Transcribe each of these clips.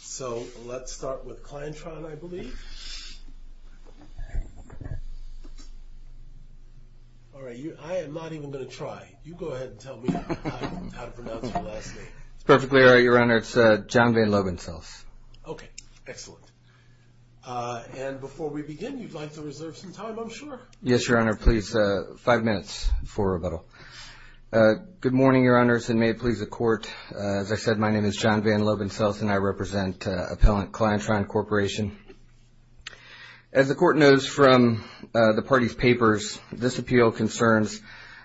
So, let's start with Clientron, I believe. All right, I am not even going to try. You go ahead and tell me how to pronounce your last name. It's perfectly all right, Your Honor. It's John Van Lobansels. Okay, excellent. And before we begin, you'd like to reserve some time, I'm sure. Yes, Your Honor. Please, five minutes for rebuttal. Good morning, Your Honors, and may it please the Court. As I said, my name is John Van Lobansels, and I represent appellant Clientron Corporation. As the Court knows from the party's papers, this appeal concerns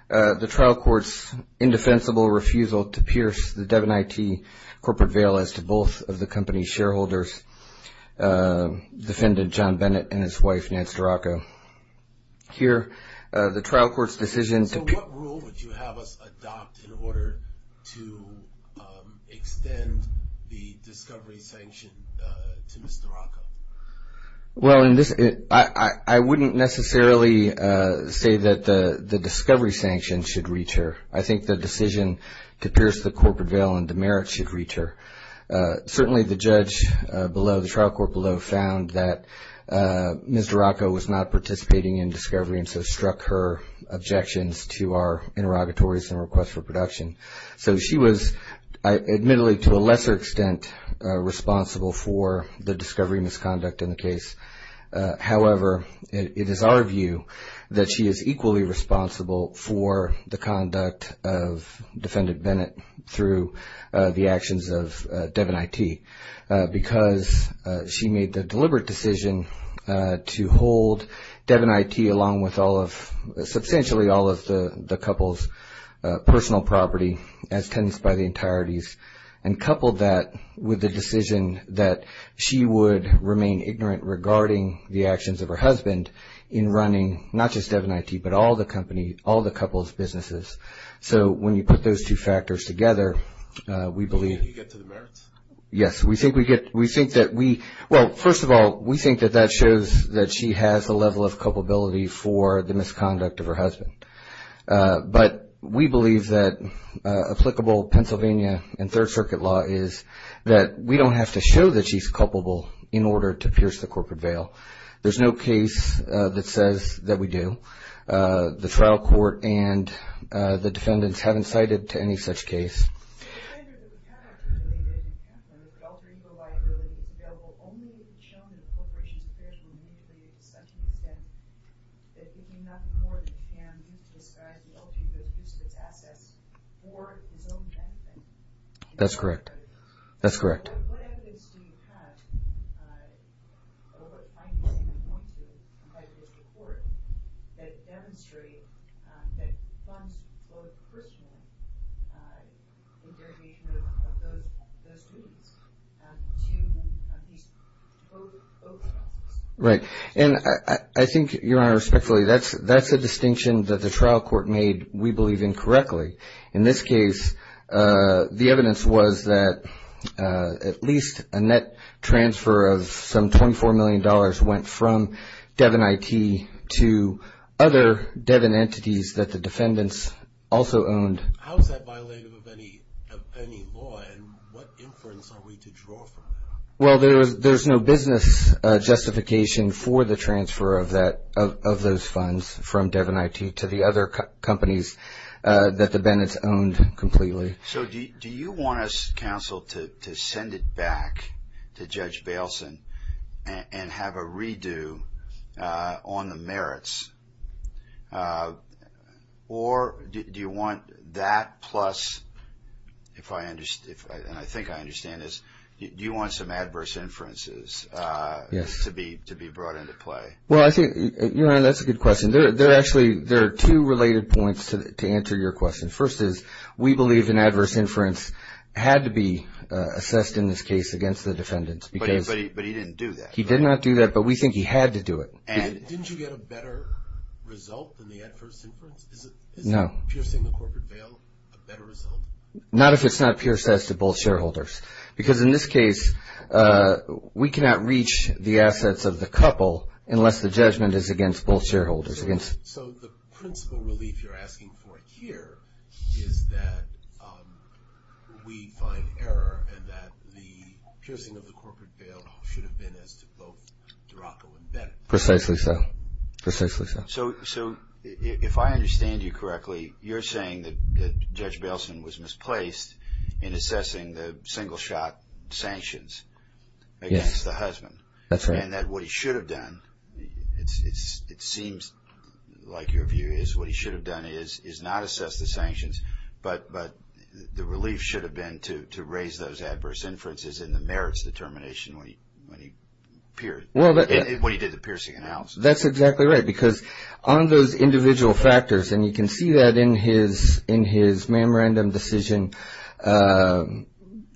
the trial court's indefensible refusal to pierce the Devon IT corporate veil as to both of the company's shareholders, defendant John Bennett and his wife, Nance DeRocco. Here, the trial court's decision to... So, what rule would you have us adopt in order to extend the discovery sanction to Ms. DeRocco? Well, I wouldn't necessarily say that the discovery sanction should reach her. I think the decision to pierce the corporate veil and demerit should reach her. Certainly, the judge below, the trial court below, found that Ms. DeRocco was not participating in discovery and so struck her objections to our interrogatories and requests for production. So, she was admittedly to a lesser extent responsible for the discovery misconduct in the case. However, it is our view that she is equally responsible for the conduct of defendant Bennett through the actions of Devon IT because she made the deliberate decision to hold Devon IT along with all of... substantially all of the couple's personal property as tenants by the entireties and coupled that with the decision that she would remain ignorant regarding the actions of her husband in running not just Devon IT, but all the company, all the couple's businesses. So, when you put those two factors together, we believe... You get to the merits. Yes. We think that we... Well, first of all, we think that that shows that she has a level of culpability for the misconduct of her husband. But we believe that applicable Pennsylvania and Third Circuit law is that we don't have to show that she's culpable in order to pierce the corporate veil. There's no case that says that we do. The trial court and the defendants haven't cited to any such case. That's correct. That's correct. Right. And I think, Your Honor, respectfully, that's a distinction that the trial court made we believe incorrectly. In this case, the evidence was that at least a net transfer of some $24 million went from Devon IT to other Devon entities that the defendants also owned. How is that violative of any law? And what inference are we to draw from that? Well, there's no business justification for the transfer of those funds from Devon IT to the other companies that the defendants owned completely. So do you want us, counsel, to send it back to Judge Bailson and have a redo on the merits? Or do you want that plus, and I think I understand this, do you want some adverse inferences to be brought into play? Well, I think, Your Honor, that's a good question. Actually, there are two related points to answer your question. First is we believe an adverse inference had to be assessed in this case against the defendants. But he didn't do that. He did not do that, but we think he had to do it. And didn't you get a better result than the adverse inference? No. Is piercing the corporate veil a better result? Not if it's not pierced as to both shareholders. Because in this case, we cannot reach the assets of the couple unless the judgment is against both shareholders. So the principal relief you're asking for here is that we find error and that the piercing of the corporate veil should have been as to both Duraco and Bennett. Precisely so. Precisely so. So if I understand you correctly, you're saying that Judge Bailson was misplaced in assessing the single-shot sanctions against the husband. That's right. And that what he should have done, it seems like your view is, what he should have done is not assess the sanctions, but the relief should have been to raise those adverse inferences and the merits determination when he did the piercing analysis. That's exactly right because on those individual factors, and you can see that in his memorandum decision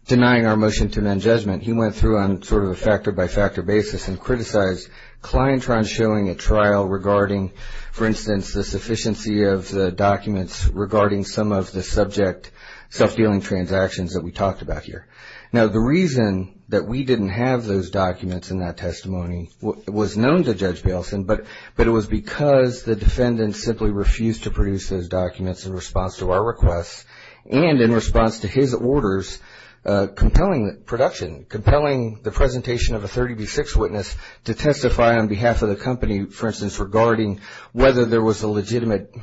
denying our motion to amend judgment, he went through on sort of a factor-by-factor basis and criticized Clientron showing a trial regarding, for instance, the sufficiency of the documents regarding some of the subject self-dealing transactions that we talked about here. Now the reason that we didn't have those documents in that testimony was known to Judge Bailson, but it was because the defendant simply refused to produce those documents in response to our requests and in response to his orders compelling production, compelling the presentation of a 30B6 witness to testify on behalf of the company, for instance, regarding whether there was a legitimate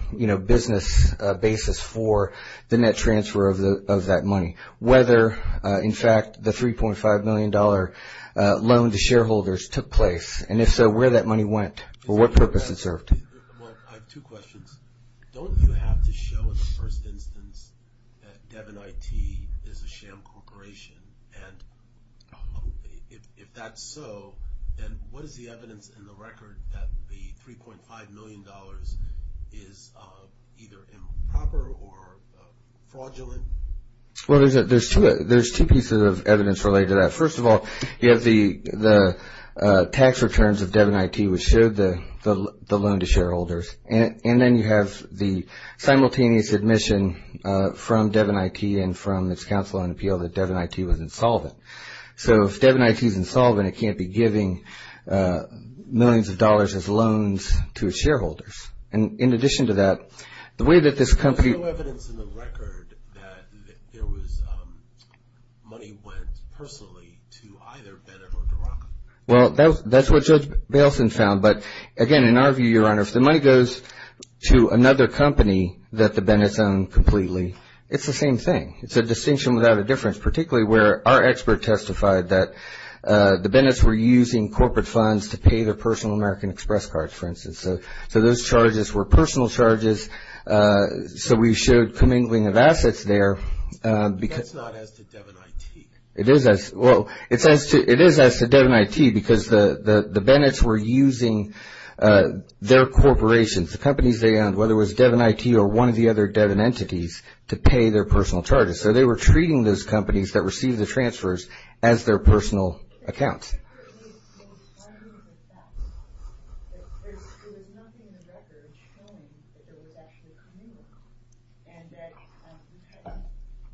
business basis for the net transfer of that money, whether, in fact, the $3.5 million loan to shareholders took place, and if so, where that money went or what purpose it served. Well, I have two questions. Don't you have to show in the first instance that Devin IT is a sham corporation, and if that's so, then what is the evidence in the record that the $3.5 million is either improper or fraudulent? Well, there's two pieces of evidence related to that. Well, first of all, you have the tax returns of Devin IT, which showed the loan to shareholders, and then you have the simultaneous admission from Devin IT and from its counsel on appeal that Devin IT was insolvent. So if Devin IT is insolvent, it can't be giving millions of dollars as loans to its shareholders. And in addition to that, the way that this company – Is there no evidence in the record that money went personally to either Bennett or Doraka? Well, that's what Judge Bailson found, but again, in our view, Your Honor, if the money goes to another company that the Bennett's own completely, it's the same thing. It's a distinction without a difference, particularly where our expert testified that the Bennett's were using corporate funds to pay their personal American Express cards, for instance. So those charges were personal charges, so we showed commingling of assets there. That's not as to Devin IT. It is as – well, it is as to Devin IT because the Bennett's were using their corporations, the companies they owned, whether it was Devin IT or one of the other Devin entities, to pay their personal charges. So they were treating those companies that received the transfers as their personal accounts. You said there was no evidence of that. There was nothing in the record showing that there was actually commingling and that you had,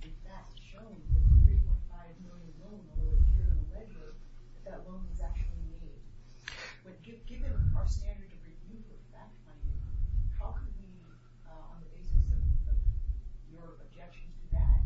in fact, shown that the 3.5 million loan that was here in the ledger, that that loan was actually made. But given our standard of review of fact-finding, how can we, on the basis of your objection to that,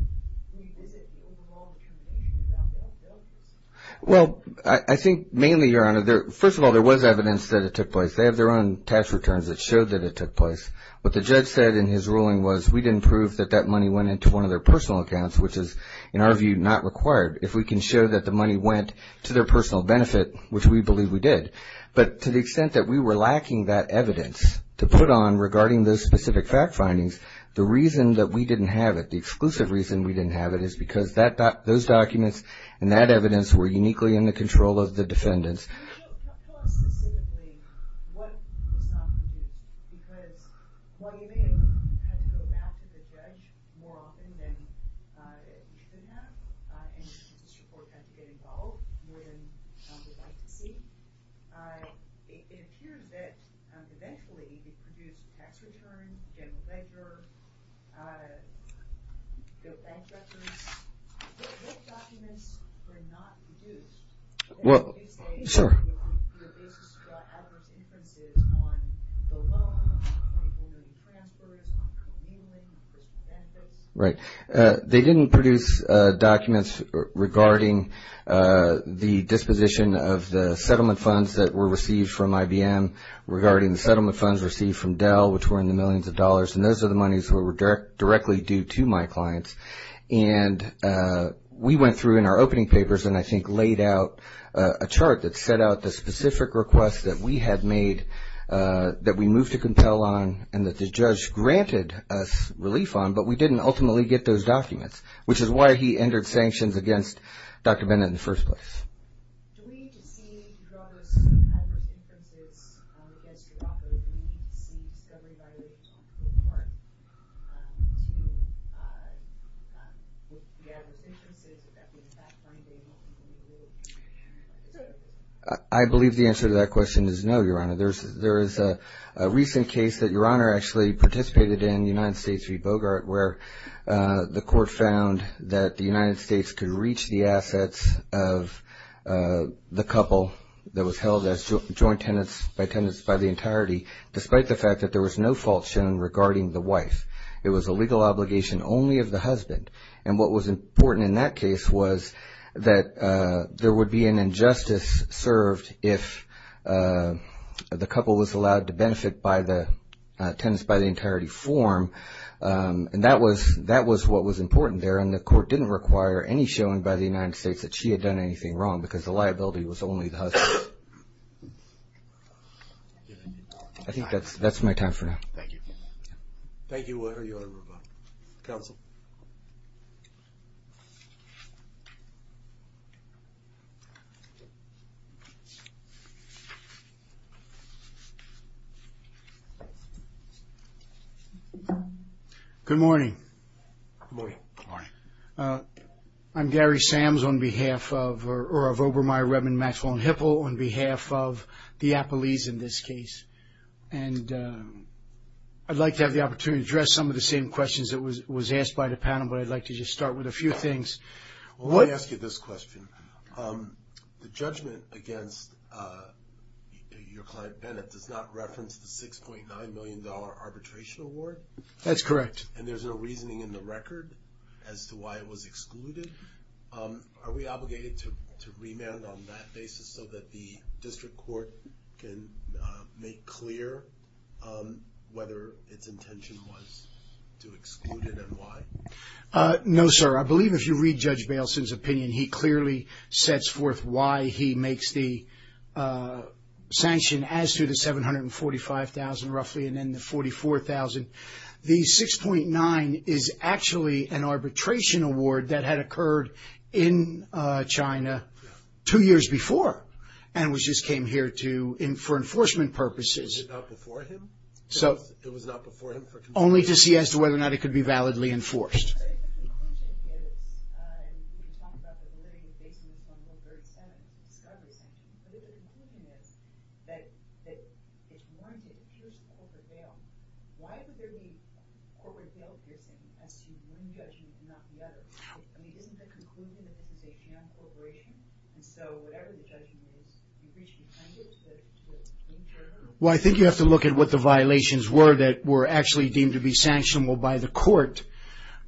revisit the overall determination of Judge Bailson? Well, I think mainly, Your Honor, first of all, there was evidence that it took place. They have their own tax returns that showed that it took place. What the judge said in his ruling was we didn't prove that that money went into one of their personal accounts, which is, in our view, not required. If we can show that the money went to their personal benefit, which we believe we did. But to the extent that we were lacking that evidence to put on regarding those specific fact-findings, the reason that we didn't have it, the exclusive reason we didn't have it, is because those documents and that evidence were uniquely in the control of the defendants. Can you tell us specifically what was not produced? Because while you may have had to go back to the judge more often than you should have, and this report had to get involved more than we'd like to see, it appears that eventually you produced tax returns, general ledger, bank records. What documents were not produced? Well, sure. Your basis for adverse inferences on the loan, on people doing transfers, on communing benefits. Right. They didn't produce documents regarding the disposition of the settlement funds that were received from IBM, regarding the settlement funds received from Dell, which were in the millions of dollars, and those are the monies that were directly due to my clients. And we went through in our opening papers and I think laid out a chart that set out the specific requests that we had made that we moved to compel on and that the judge granted us relief on, but we didn't ultimately get those documents, which is why he entered sanctions against Dr. Bennett in the first place. Do we need to see your adverse inferences against your offer? Do we need to see discovery by the court to look at the adverse inferences, if that means backbinding on the community? I believe the answer to that question is no, Your Honor. There is a recent case that Your Honor actually participated in, United States v. Bogart, where the court found that the United States could reach the assets of the couple that was held as joint tenants by tenants by the entirety, despite the fact that there was no fault shown regarding the wife. It was a legal obligation only of the husband, and what was important in that case was that there would be an injustice served if the couple was allowed to benefit by the tenants by the entirety form, and that was what was important there, and the court didn't require any showing by the United States that she had done anything wrong because the liability was only the husband. I think that's my time for now. Thank you. Thank you. Counsel. Good morning. Good morning. Good morning. I'm Gary Sams on behalf of, or of Obermeyer, Redmond, Maxwell, and Hipple on behalf of the Appalese in this case, and I'd like to have the opportunity to address some of the same questions that was asked by the panel, but I'd like to just start with a few things. Well, let me ask you this question. The judgment against your client, Bennett, does not reference the $6.9 million arbitration award. That's correct. And there's no reasoning in the record as to why it was excluded. Are we obligated to remand on that basis so that the district court can make clear whether its intention was to exclude it and why? No, sir. I believe if you read Judge Bailson's opinion, he clearly sets forth why he makes the sanction as to the $745,000 roughly and then the $44,000. The $6.9 is actually an arbitration award that had occurred in China two years before and which just came here for enforcement purposes. Was it not before him? It was not before him for consideration? Only to see as to whether or not it could be validly enforced. Well, I think the conclusion is, and you can talk about the validity of Basin from the third sentence, the discovery sentence, but the conclusion is that it's warranted first over bail. Why would there be corporate bail given as to one judgment and not the other? I mean, isn't the conclusion that this is a jammed corporation? And so whatever the judgment is, you reach intended to it in general? Well, I think you have to look at what the violations were that were actually deemed to be sanctionable by the court.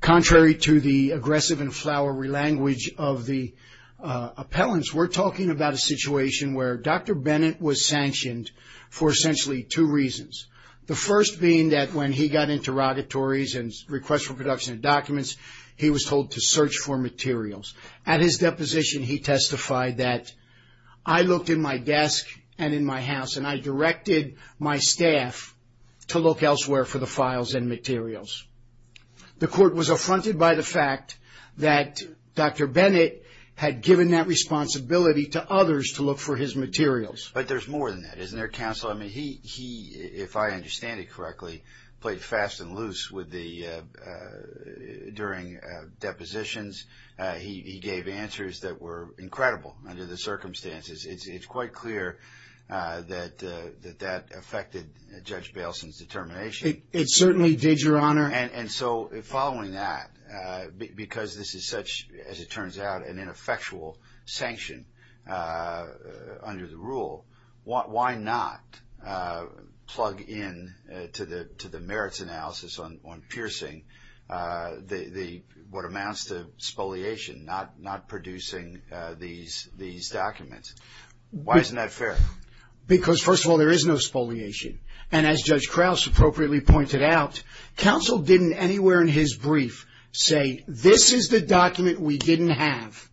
Contrary to the aggressive and flowery language of the appellants, we're talking about a situation where Dr. Bennett was sanctioned for essentially two reasons. The first being that when he got interrogatories and requests for production of documents, he was told to search for materials. At his deposition, he testified that, I looked in my desk and in my house and I directed my staff to look elsewhere for the files and materials. The court was affronted by the fact that Dr. Bennett had given that responsibility to others to look for his materials. But there's more than that, isn't there, counsel? I mean, he, if I understand it correctly, played fast and loose during depositions. He gave answers that were incredible under the circumstances. It's quite clear that that affected Judge Bailson's determination. It certainly did, Your Honor. And so following that, because this is such, as it turns out, an ineffectual sanction under the rule, why not plug in to the merits analysis on piercing what amounts to spoliation, not producing these documents? Why isn't that fair? Because, first of all, there is no spoliation. And as Judge Krause appropriately pointed out, counsel didn't anywhere in his brief say, this is the document we didn't have.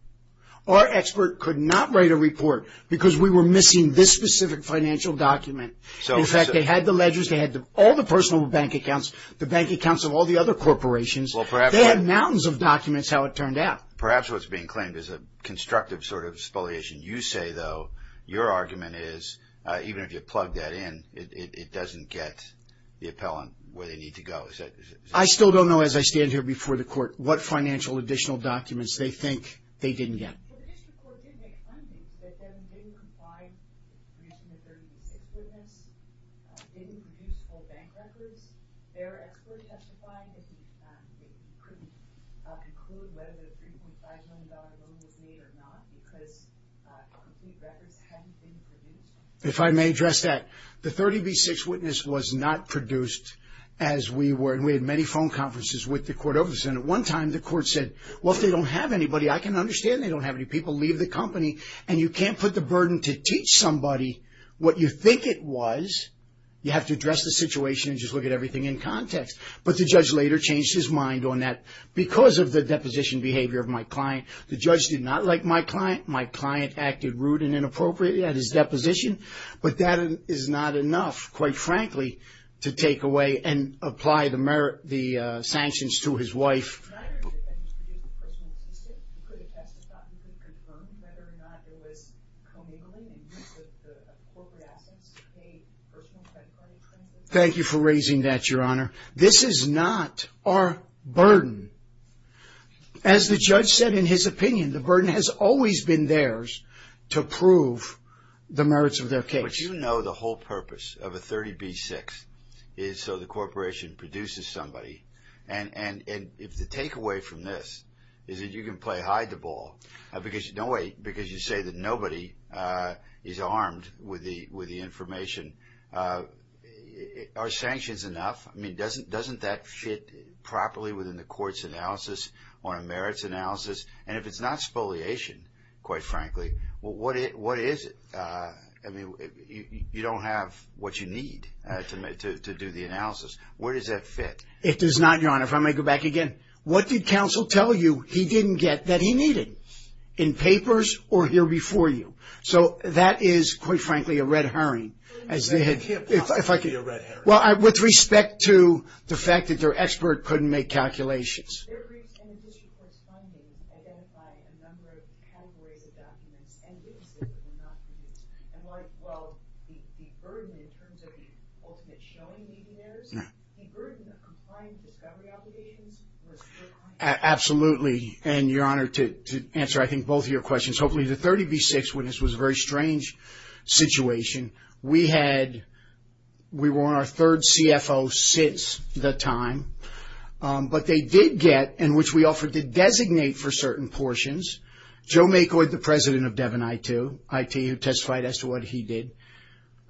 Our expert could not write a report because we were missing this specific financial document. In fact, they had the ledgers, they had all the personal bank accounts, the bank accounts of all the other corporations. They had mountains of documents, how it turned out. Perhaps what's being claimed is a constructive sort of spoliation. You say, though, your argument is even if you plug that in, it doesn't get the appellant where they need to go. I still don't know, as I stand here before the Court, what financial additional documents they think they didn't get. Well, the district court did make a finding that they didn't comply with producing the 30B6 witness, didn't produce full bank records. Their expert testified that he couldn't conclude whether the $3.5 million loan was made or not, because complete records hadn't been produced. If I may address that, the 30B6 witness was not produced as we were, and we had many phone conferences with the Court over this. And at one time the Court said, well, if they don't have anybody, I can understand they don't have any people. Leave the company. And you can't put the burden to teach somebody what you think it was. You have to address the situation and just look at everything in context. But the judge later changed his mind on that because of the deposition behavior of my client. The judge did not like my client. My client acted rude and inappropriate at his deposition. But that is not enough, quite frankly, to take away and apply the sanctions to his wife. Thank you for raising that, Your Honor. This is not our burden. As the judge said in his opinion, the burden has always been theirs to prove the merits of their case. But you know the whole purpose of a 30B6 is so the corporation produces somebody. And if the takeaway from this is that you can play hide the ball, because you say that nobody is armed with the information, are sanctions enough? I mean, doesn't that fit properly within the court's analysis or a merits analysis? And if it's not spoliation, quite frankly, what is it? I mean, you don't have what you need to do the analysis. Where does that fit? It does not, Your Honor. If I may go back again. What did counsel tell you he didn't get that he needed in papers or here before you? So that is, quite frankly, a red herring. Well, with respect to the fact that their expert couldn't make calculations. Absolutely. And Your Honor, to answer I think both of your questions, hopefully the 30B6 witness was a very strange situation. We had, we were on our third CFO since the time. But they did get, and which we offered to designate for certain portions, Joe McCoy, the president of Devon IT, who testified as to what he did.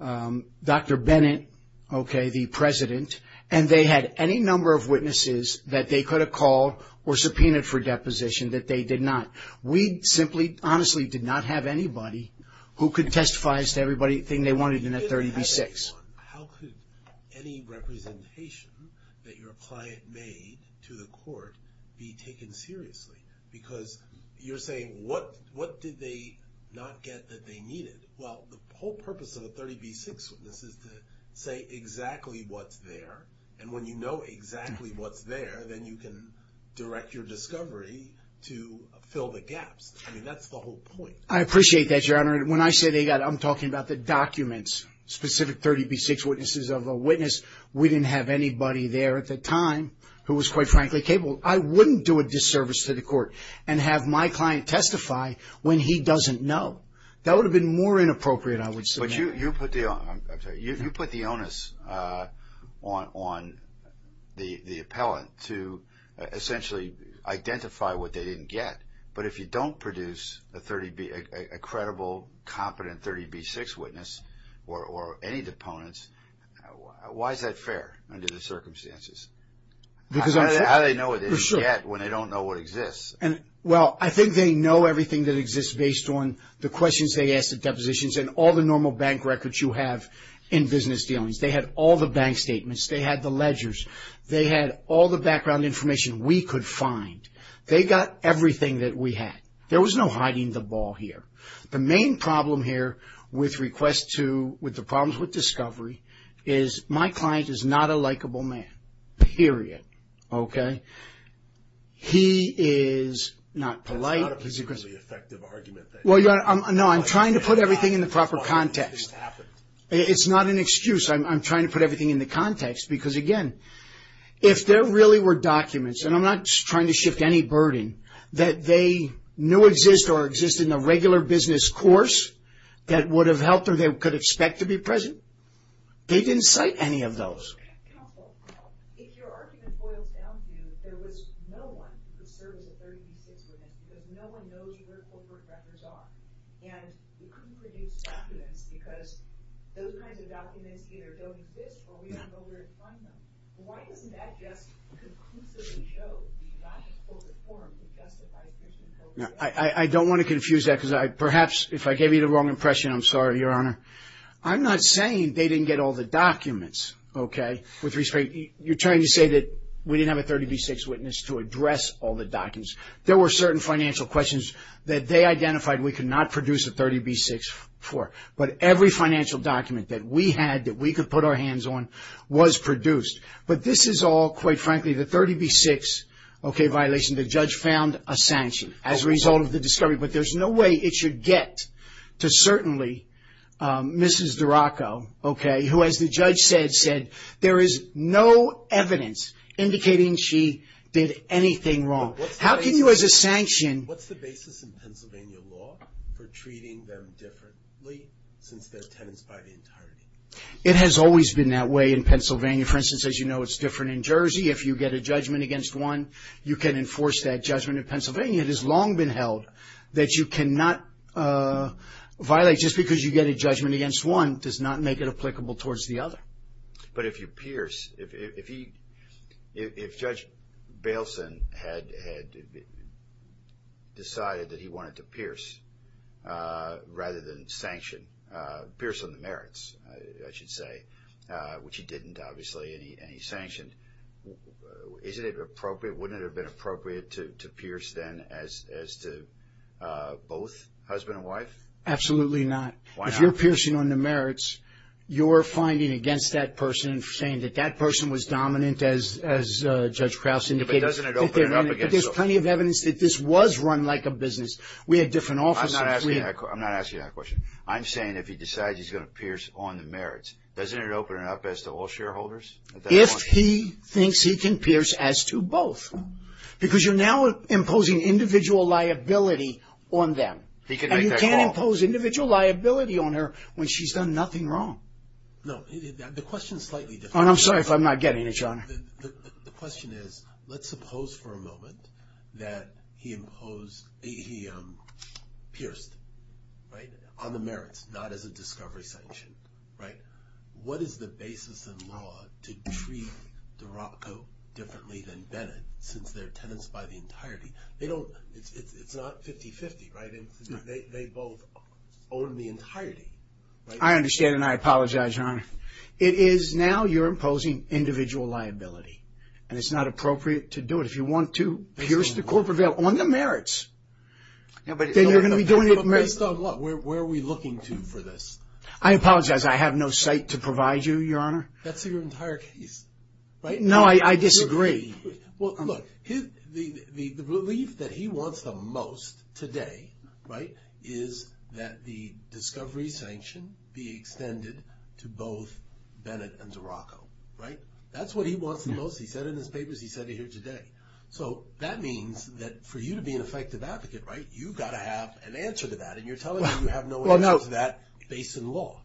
Dr. Bennett, okay, the president. And they had any number of witnesses that they could have called or subpoenaed for deposition that they did not. We simply, honestly, did not have anybody who could testify as to everything they wanted in that 30B6. How could any representation that your client made to the court be taken seriously? Because you're saying, what did they not get that they needed? Well, the whole purpose of a 30B6 witness is to say exactly what's there. And when you know exactly what's there, then you can direct your discovery to fill the gaps. I mean, that's the whole point. I appreciate that, Your Honor. And when I say they got, I'm talking about the documents, specific 30B6 witnesses of a witness. We didn't have anybody there at the time who was quite frankly capable. I wouldn't do a disservice to the court and have my client testify when he doesn't know. That would have been more inappropriate, I would submit. You put the onus on the appellant to essentially identify what they didn't get. But if you don't produce a credible, competent 30B6 witness or any deponents, why is that fair under the circumstances? How do they know what they didn't get when they don't know what exists? Well, I think they know everything that exists based on the questions they ask and all the normal bank records you have in business dealings. They had all the bank statements. They had the ledgers. They had all the background information we could find. They got everything that we had. There was no hiding the ball here. The main problem here with the problems with discovery is my client is not a likable man, period. Okay? He is not polite. That's not a particularly effective argument. No, I'm trying to put everything in the proper context. It's not an excuse. I'm trying to put everything in the context because, again, if there really were documents, and I'm not trying to shift any burden, that they knew exist or exist in the regular business course that would have helped or they could expect to be present, they didn't cite any of those. Counsel, if your argument boils down to there was no one who could serve as a 30B6 witness, if no one knows where corporate records are, and we couldn't produce documents because those kinds of documents either don't exist or we don't know where to find them, why doesn't that just conclusively show we do not have corporate form to justify fishing over there? I don't want to confuse that because perhaps if I gave you the wrong impression, I'm sorry, Your Honor. I'm not saying they didn't get all the documents, okay, with respect. You're trying to say that we didn't have a 30B6 witness to address all the documents. There were certain financial questions that they identified we could not produce a 30B6 for, but every financial document that we had that we could put our hands on was produced. But this is all, quite frankly, the 30B6, okay, violation. The judge found a sanction as a result of the discovery, but there's no way it should get to certainly Mrs. Duraco, okay, who, as the judge said, said there is no evidence indicating she did anything wrong. Now, what's the basis in Pennsylvania law for treating them differently since they're tenants by the entirety? It has always been that way in Pennsylvania. For instance, as you know, it's different in Jersey. If you get a judgment against one, you can enforce that judgment in Pennsylvania. It has long been held that you cannot violate just because you get a judgment against one does not make it applicable towards the other. But if you pierce, if Judge Bailson had decided that he wanted to pierce rather than sanction, pierce on the merits, I should say, which he didn't, obviously, and he sanctioned, wouldn't it have been appropriate to pierce then as to both husband and wife? Absolutely not. Why not? If you're piercing on the merits, you're finding against that person, saying that that person was dominant as Judge Krause indicated. But doesn't it open it up against them? But there's plenty of evidence that this was run like a business. We had different offices. I'm not asking that question. I'm saying if he decides he's going to pierce on the merits, doesn't it open it up as to all shareholders? If he thinks he can pierce as to both, because you're now imposing individual liability on them. He can make that call. He can impose individual liability on her when she's done nothing wrong. No. The question is slightly different. I'm sorry if I'm not getting it, Your Honor. The question is, let's suppose for a moment that he pierced on the merits, not as a discovery sanction. What is the basis in law to treat Dorotko differently than Bennett since they're tenants by the entirety? It's not 50-50. They both own the entirety. I understand, and I apologize, Your Honor. It is now you're imposing individual liability, and it's not appropriate to do it. If you want to pierce the corporate bail on the merits, then you're going to be doing it. Based on what? Where are we looking to for this? I apologize. I have no site to provide you, Your Honor. That's your entire case, right? No, I disagree. Well, look, the relief that he wants the most today, right, is that the discovery sanction be extended to both Bennett and Dorotko, right? That's what he wants the most. He said it in his papers. He said it here today. So that means that for you to be an effective advocate, right, you've got to have an answer to that, and you're telling me you have no answer to that based in law.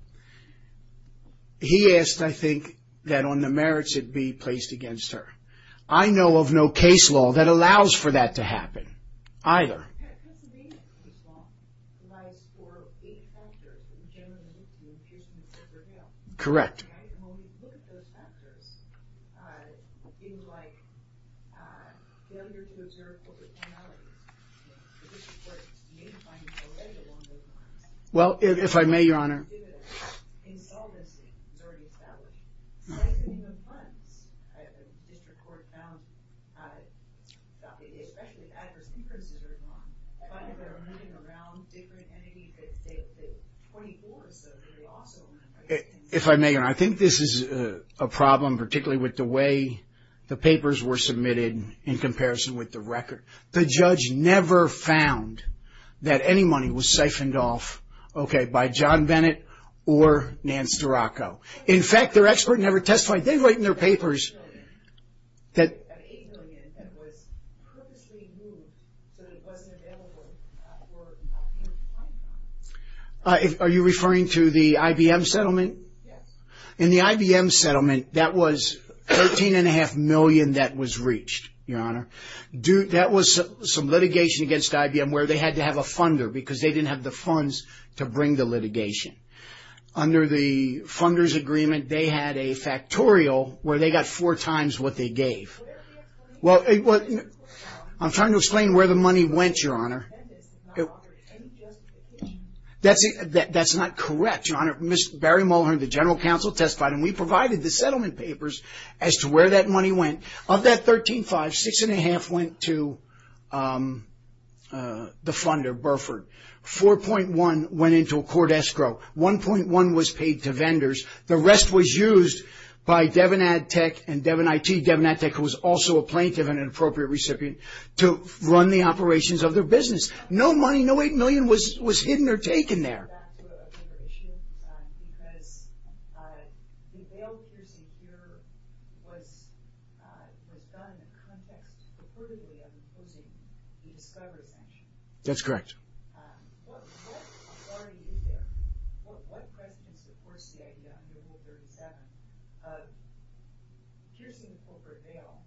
He asked, I think, that on the merits it be placed against her. I know of no case law that allows for that to happen either. Correct. Well, if I may, Your Honor. Well, if I may, Your Honor. I think this is a problem, particularly with the way the papers were submitted in comparison with the record. The judge never found that any money was siphoned off, okay, by John Bennett or Nance Dorotko. In fact, their expert never testified. They write in their papers that Are you referring to the IBM settlement? Yes. In the IBM settlement, that was $13.5 million that was reached, Your Honor. That was some litigation against IBM where they had to have a funder because they didn't have the funds to bring the litigation. Under the funder's agreement, they had a factorial where they got four times what they gave. I'm trying to explain where the money went, Your Honor. That's not correct, Your Honor. Barry Mulhern, the general counsel, testified, and we provided the settlement papers as to where that money went. Of that $13.5 million, $6.5 million went to the funder, Burford. $4.1 million went into a court escrow. $1.1 million was paid to vendors. The rest was used by Devinad Tech and Devin IT. Devinad Tech was also a plaintiff and an appropriate recipient to run the operations of their business. No money, no $8 million was hidden or taken there. Because the bail piercing here was done in context purportedly of imposing the discovery sanction. That's correct. What authority is there? What precedent supports the idea under Rule 37 of piercing a corporate bail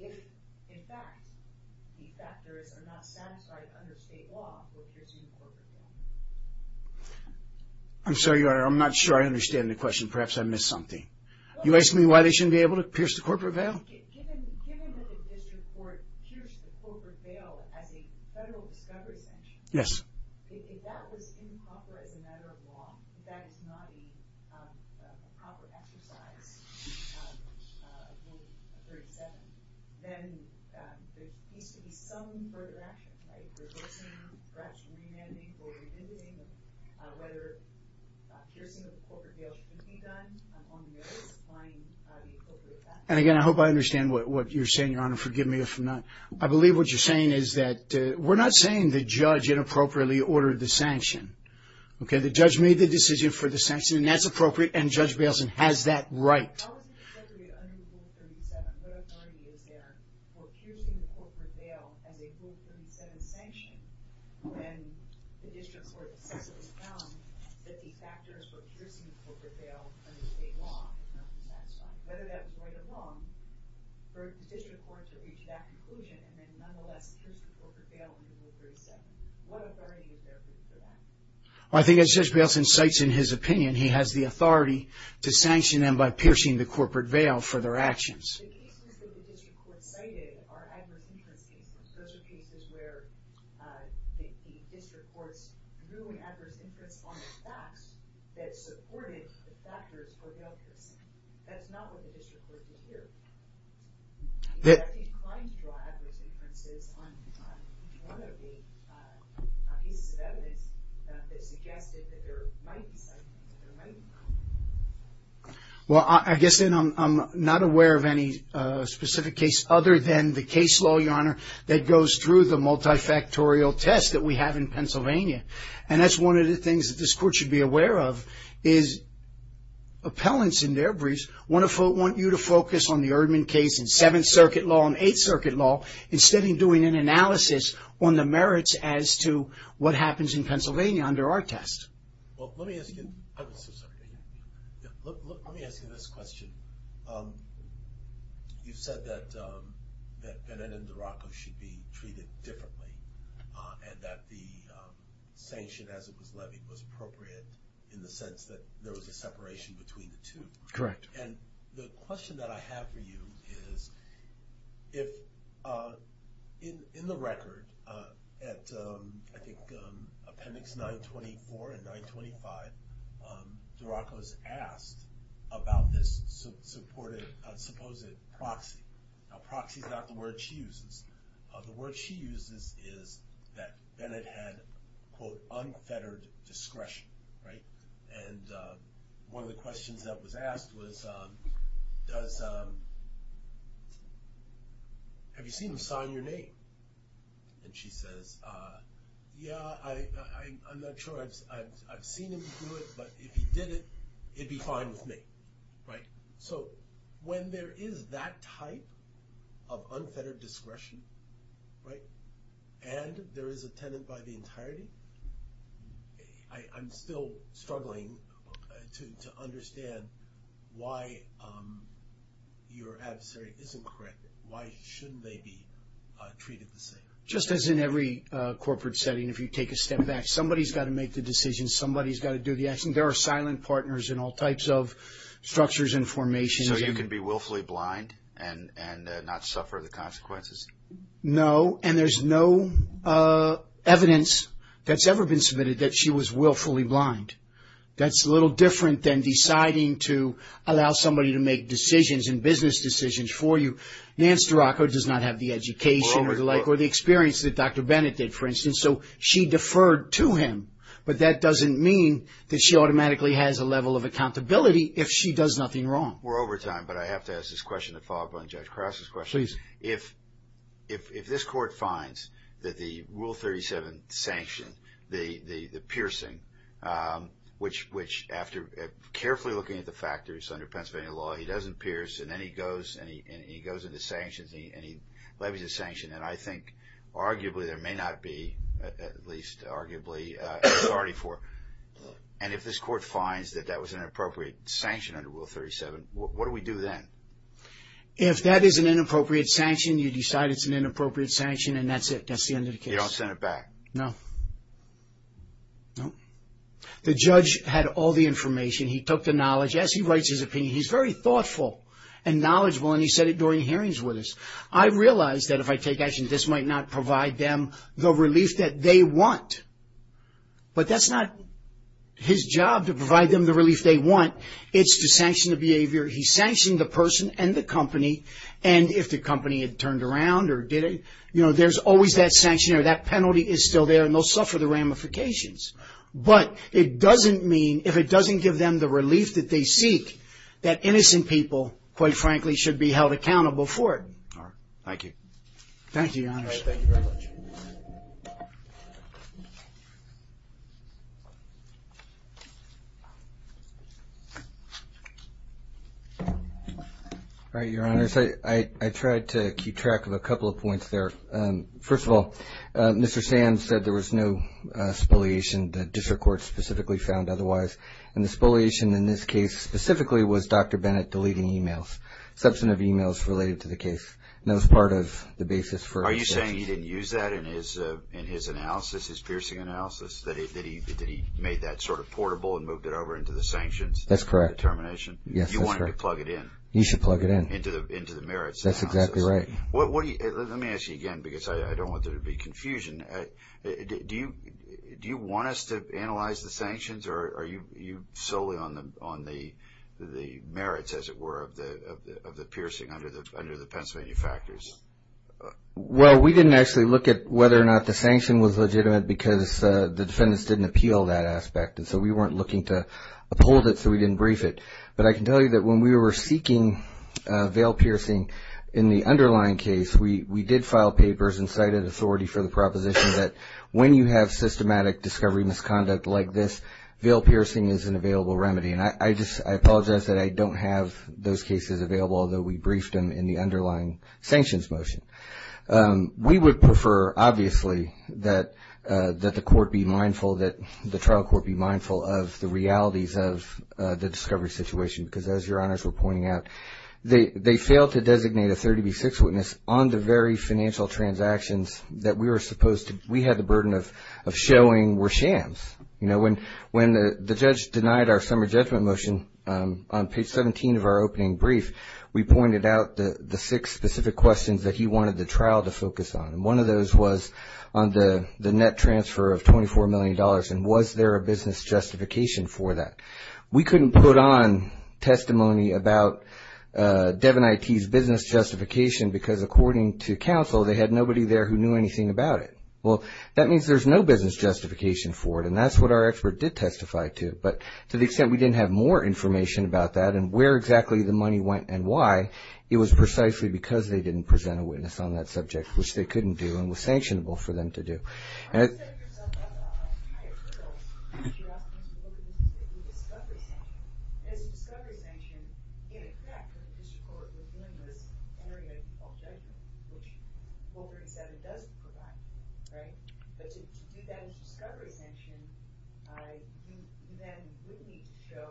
if, in fact, the factors are not satisfied under state law for piercing a corporate bail? I'm sorry, Your Honor, I'm not sure I understand the question. Perhaps I missed something. You're asking me why they shouldn't be able to pierce the corporate bail? Given that the district court pierced the corporate bail as a federal discovery sanction, if that was improper as a matter of law, if that is not a proper exercise of Rule 37, then there needs to be some further action, right? Reversing, perhaps remanding or remitting, whether piercing of a corporate bail should be done on notice applying the appropriate factors. And again, I hope I understand what you're saying, Your Honor. Forgive me if I'm not. I believe what you're saying is that we're not saying the judge inappropriately ordered the sanction. Okay? The judge made the decision for the sanction, and that's appropriate, and Judge Bailson has that right. How is it appropriate under Rule 37? What authority is there for piercing the corporate bail as a Rule 37 sanction when the district court successfully found that the factors for piercing the corporate bail under state law are not satisfied? Whether that was right or wrong for the district court to reach that conclusion and then nonetheless pierce the corporate bail under Rule 37. What authority is there for that? Well, I think as Judge Bailson cites in his opinion, he has the authority to sanction them by piercing the corporate bail for their actions. The cases that the district court cited are adverse inference cases. Those are cases where the district courts drew an adverse inference on the facts that supported the factors for bail piercing. That's not what the district court was doing. Are they inclined to draw adverse inferences on one of the pieces of evidence that suggested that there might be something, that there might be a problem? Well, I guess I'm not aware of any specific case other than the case law, Your Honor, that goes through the multifactorial test that we have in Pennsylvania. And that's one of the things that this court should be aware of is appellants in their briefs want you to focus on the Erdman case in Seventh Circuit Law and Eighth Circuit Law instead of doing an analysis on the merits as to what happens in Pennsylvania under our test. Well, let me ask you, let me ask you this question. You said that Benet and Duraco should be treated differently and that the sanction as it was levied was appropriate in the sense that there was a separation between the two. Correct. And the question that I have for you is if in the record at, I think, Appendix 924 and 925, Duraco is asked about this supposed proxy. Now, proxy is not the word she uses. The word she uses is that Benet had, quote, unfettered discretion, right? And one of the questions that was asked was, have you seen him sign your name? And she says, yeah, I'm not sure. I've seen him do it, but if he did it, it'd be fine with me, right? So when there is that type of unfettered discretion, right, and there is a tenant by the entirety, I'm still struggling to understand why your adversary isn't correct. Why shouldn't they be treated the same? Just as in every corporate setting, if you take a step back, somebody's got to make the decision, somebody's got to do the action. There are silent partners in all types of structures and formations. So you can be willfully blind and not suffer the consequences? No, and there's no evidence that's ever been submitted that she was willfully blind. That's a little different than deciding to allow somebody to make decisions and business decisions for you. Nance Duraco does not have the education or the experience that Dr. Benet did, for instance. So she deferred to him, but that doesn't mean that she automatically has a level of accountability if she does nothing wrong. We're over time, but I have to ask this question to follow up on Judge Cross's question. Yes, please. If this Court finds that the Rule 37 sanction, the piercing, which after carefully looking at the factors under Pennsylvania law, he doesn't pierce and then he goes into sanctions and he levies a sanction, and I think arguably there may not be, at least arguably, authority for it, and if this Court finds that that was an inappropriate sanction under Rule 37, what do we do then? If that is an inappropriate sanction, you decide it's an inappropriate sanction and that's it. That's the end of the case. You don't send it back? No. The judge had all the information. He took the knowledge. Yes, he writes his opinion. He's very thoughtful and knowledgeable, and he said it during hearings with us. I realize that if I take action, this might not provide them the relief that they want, but that's not his job to provide them the relief they want. It's to sanction the behavior. He sanctioned the person and the company, and if the company had turned around or didn't, you know, there's always that sanction, or that penalty is still there, and they'll suffer the ramifications. But it doesn't mean, if it doesn't give them the relief that they seek, that innocent people, quite frankly, should be held accountable for it. Thank you. Thank you, Your Honor. All right, thank you very much. All right, Your Honors. I tried to keep track of a couple of points there. First of all, Mr. Sands said there was no spoliation, that district courts specifically found otherwise, and the spoliation in this case specifically was Dr. Bennett deleting emails, substantive emails related to the case. That was part of the basis for his sanction. Are you saying he didn't use that in his analysis, his piercing analysis, that he made that sort of portable and moved it over into the sanctions determination? That's correct. Yes, that's correct. You wanted to plug it in. You should plug it in. Into the merits analysis. That's exactly right. Let me ask you again, because I don't want there to be confusion. Do you want us to analyze the sanctions, or are you solely on the merits, as it were, of the piercing under the Pence manufacturers? Well, we didn't actually look at whether or not the sanction was legitimate because the defendants didn't appeal that aspect, and so we weren't looking to uphold it, so we didn't brief it. But I can tell you that when we were seeking veil piercing in the underlying case, we did file papers and cited authority for the proposition that when you have systematic discovery misconduct like this, veil piercing is an available remedy. And I apologize that I don't have those cases available, although we briefed them in the underlying sanctions motion. We would prefer, obviously, that the court be mindful, that the trial court be mindful of the realities of the discovery situation because, as Your Honors were pointing out, they failed to designate a 30B6 witness on the very financial transactions that we had the burden of showing were shams. You know, when the judge denied our summer judgment motion, on page 17 of our opening brief, we pointed out the six specific questions that he wanted the trial to focus on, and one of those was on the net transfer of $24 million, and was there a business justification for that. We couldn't put on testimony about Devin IT's business justification because, according to counsel, they had nobody there who knew anything about it. Well, that means there's no business justification for it, and that's what our expert did testify to, but to the extent we didn't have more information about that and where exactly the money went and why, it was precisely because they didn't present a witness on that subject, which they couldn't do and was sanctionable for them to do. You said yourself that the higher courts, that you're asking us to look at this as a discovery sanction, and as a discovery sanction, in effect, the district court was doing this area of judgment, which 437 does provide, right? But to do that as a discovery sanction, you then would need to show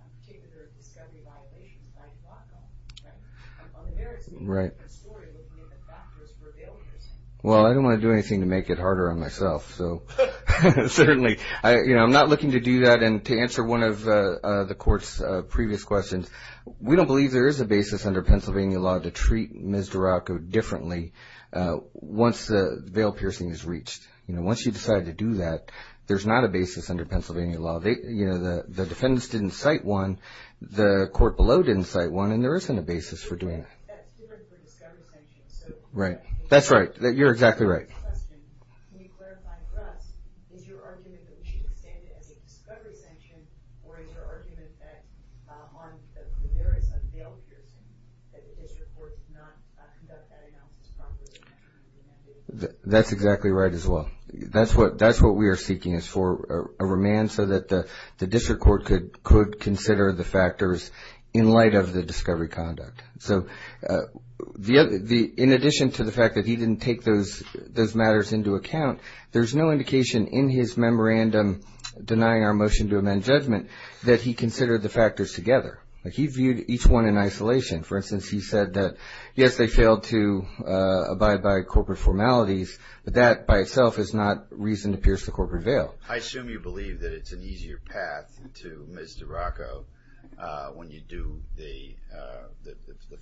a particular discovery violation, if I do not know, right? On the merits of a different story, looking at the factors for failures. Well, I didn't want to do anything to make it harder on myself, so certainly. I'm not looking to do that, and to answer one of the court's previous questions, we don't believe there is a basis under Pennsylvania law to treat Ms. Duracko differently once the veil piercing is reached. Once you decide to do that, there's not a basis under Pennsylvania law. The defendants didn't cite one, the court below didn't cite one, and there isn't a basis for doing that. Right. That's right. You're exactly right. That's exactly right as well. That's what we are seeking is for a remand so that the district court could consider the factors in light of the discovery conduct. So in addition to the fact that he didn't take those matters into account, there's no indication in his memorandum denying our motion to amend judgment that he considered the factors together. He viewed each one in isolation. For instance, he said that, yes, they failed to abide by corporate formalities, but that by itself is not reason to pierce the corporate veil. I assume you believe that it's an easier path to Ms. Duracko when you do the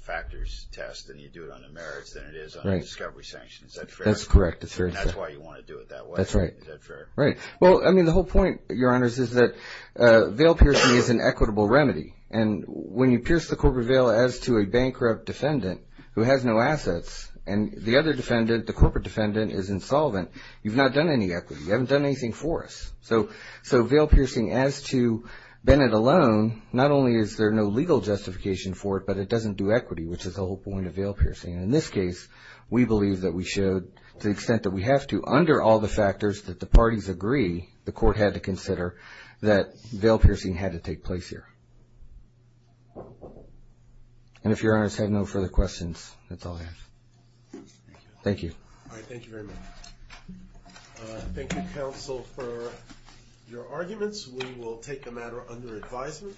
factors test and you do it on the merits than it is on the discovery sanctions. Is that fair? That's correct. That's why you want to do it that way. That's right. Is that fair? Right. Well, I mean, the whole point, Your Honors, is that veil piercing is an equitable remedy. And when you pierce the corporate veil as to a bankrupt defendant who has no assets and the other defendant, the corporate defendant, is insolvent, you've not done any equity. You haven't done anything for us. So veil piercing as to Bennett alone, not only is there no legal justification for it, but it doesn't do equity, which is the whole point of veil piercing. And in this case, we believe that we should, to the extent that we have to, under all the factors that the parties agree the court had to consider, that veil piercing had to take place here. And if Your Honors have no further questions, that's all I have. Thank you. All right. Thank you very much. Thank you, counsel, for your arguments. We will take the matter under advisement.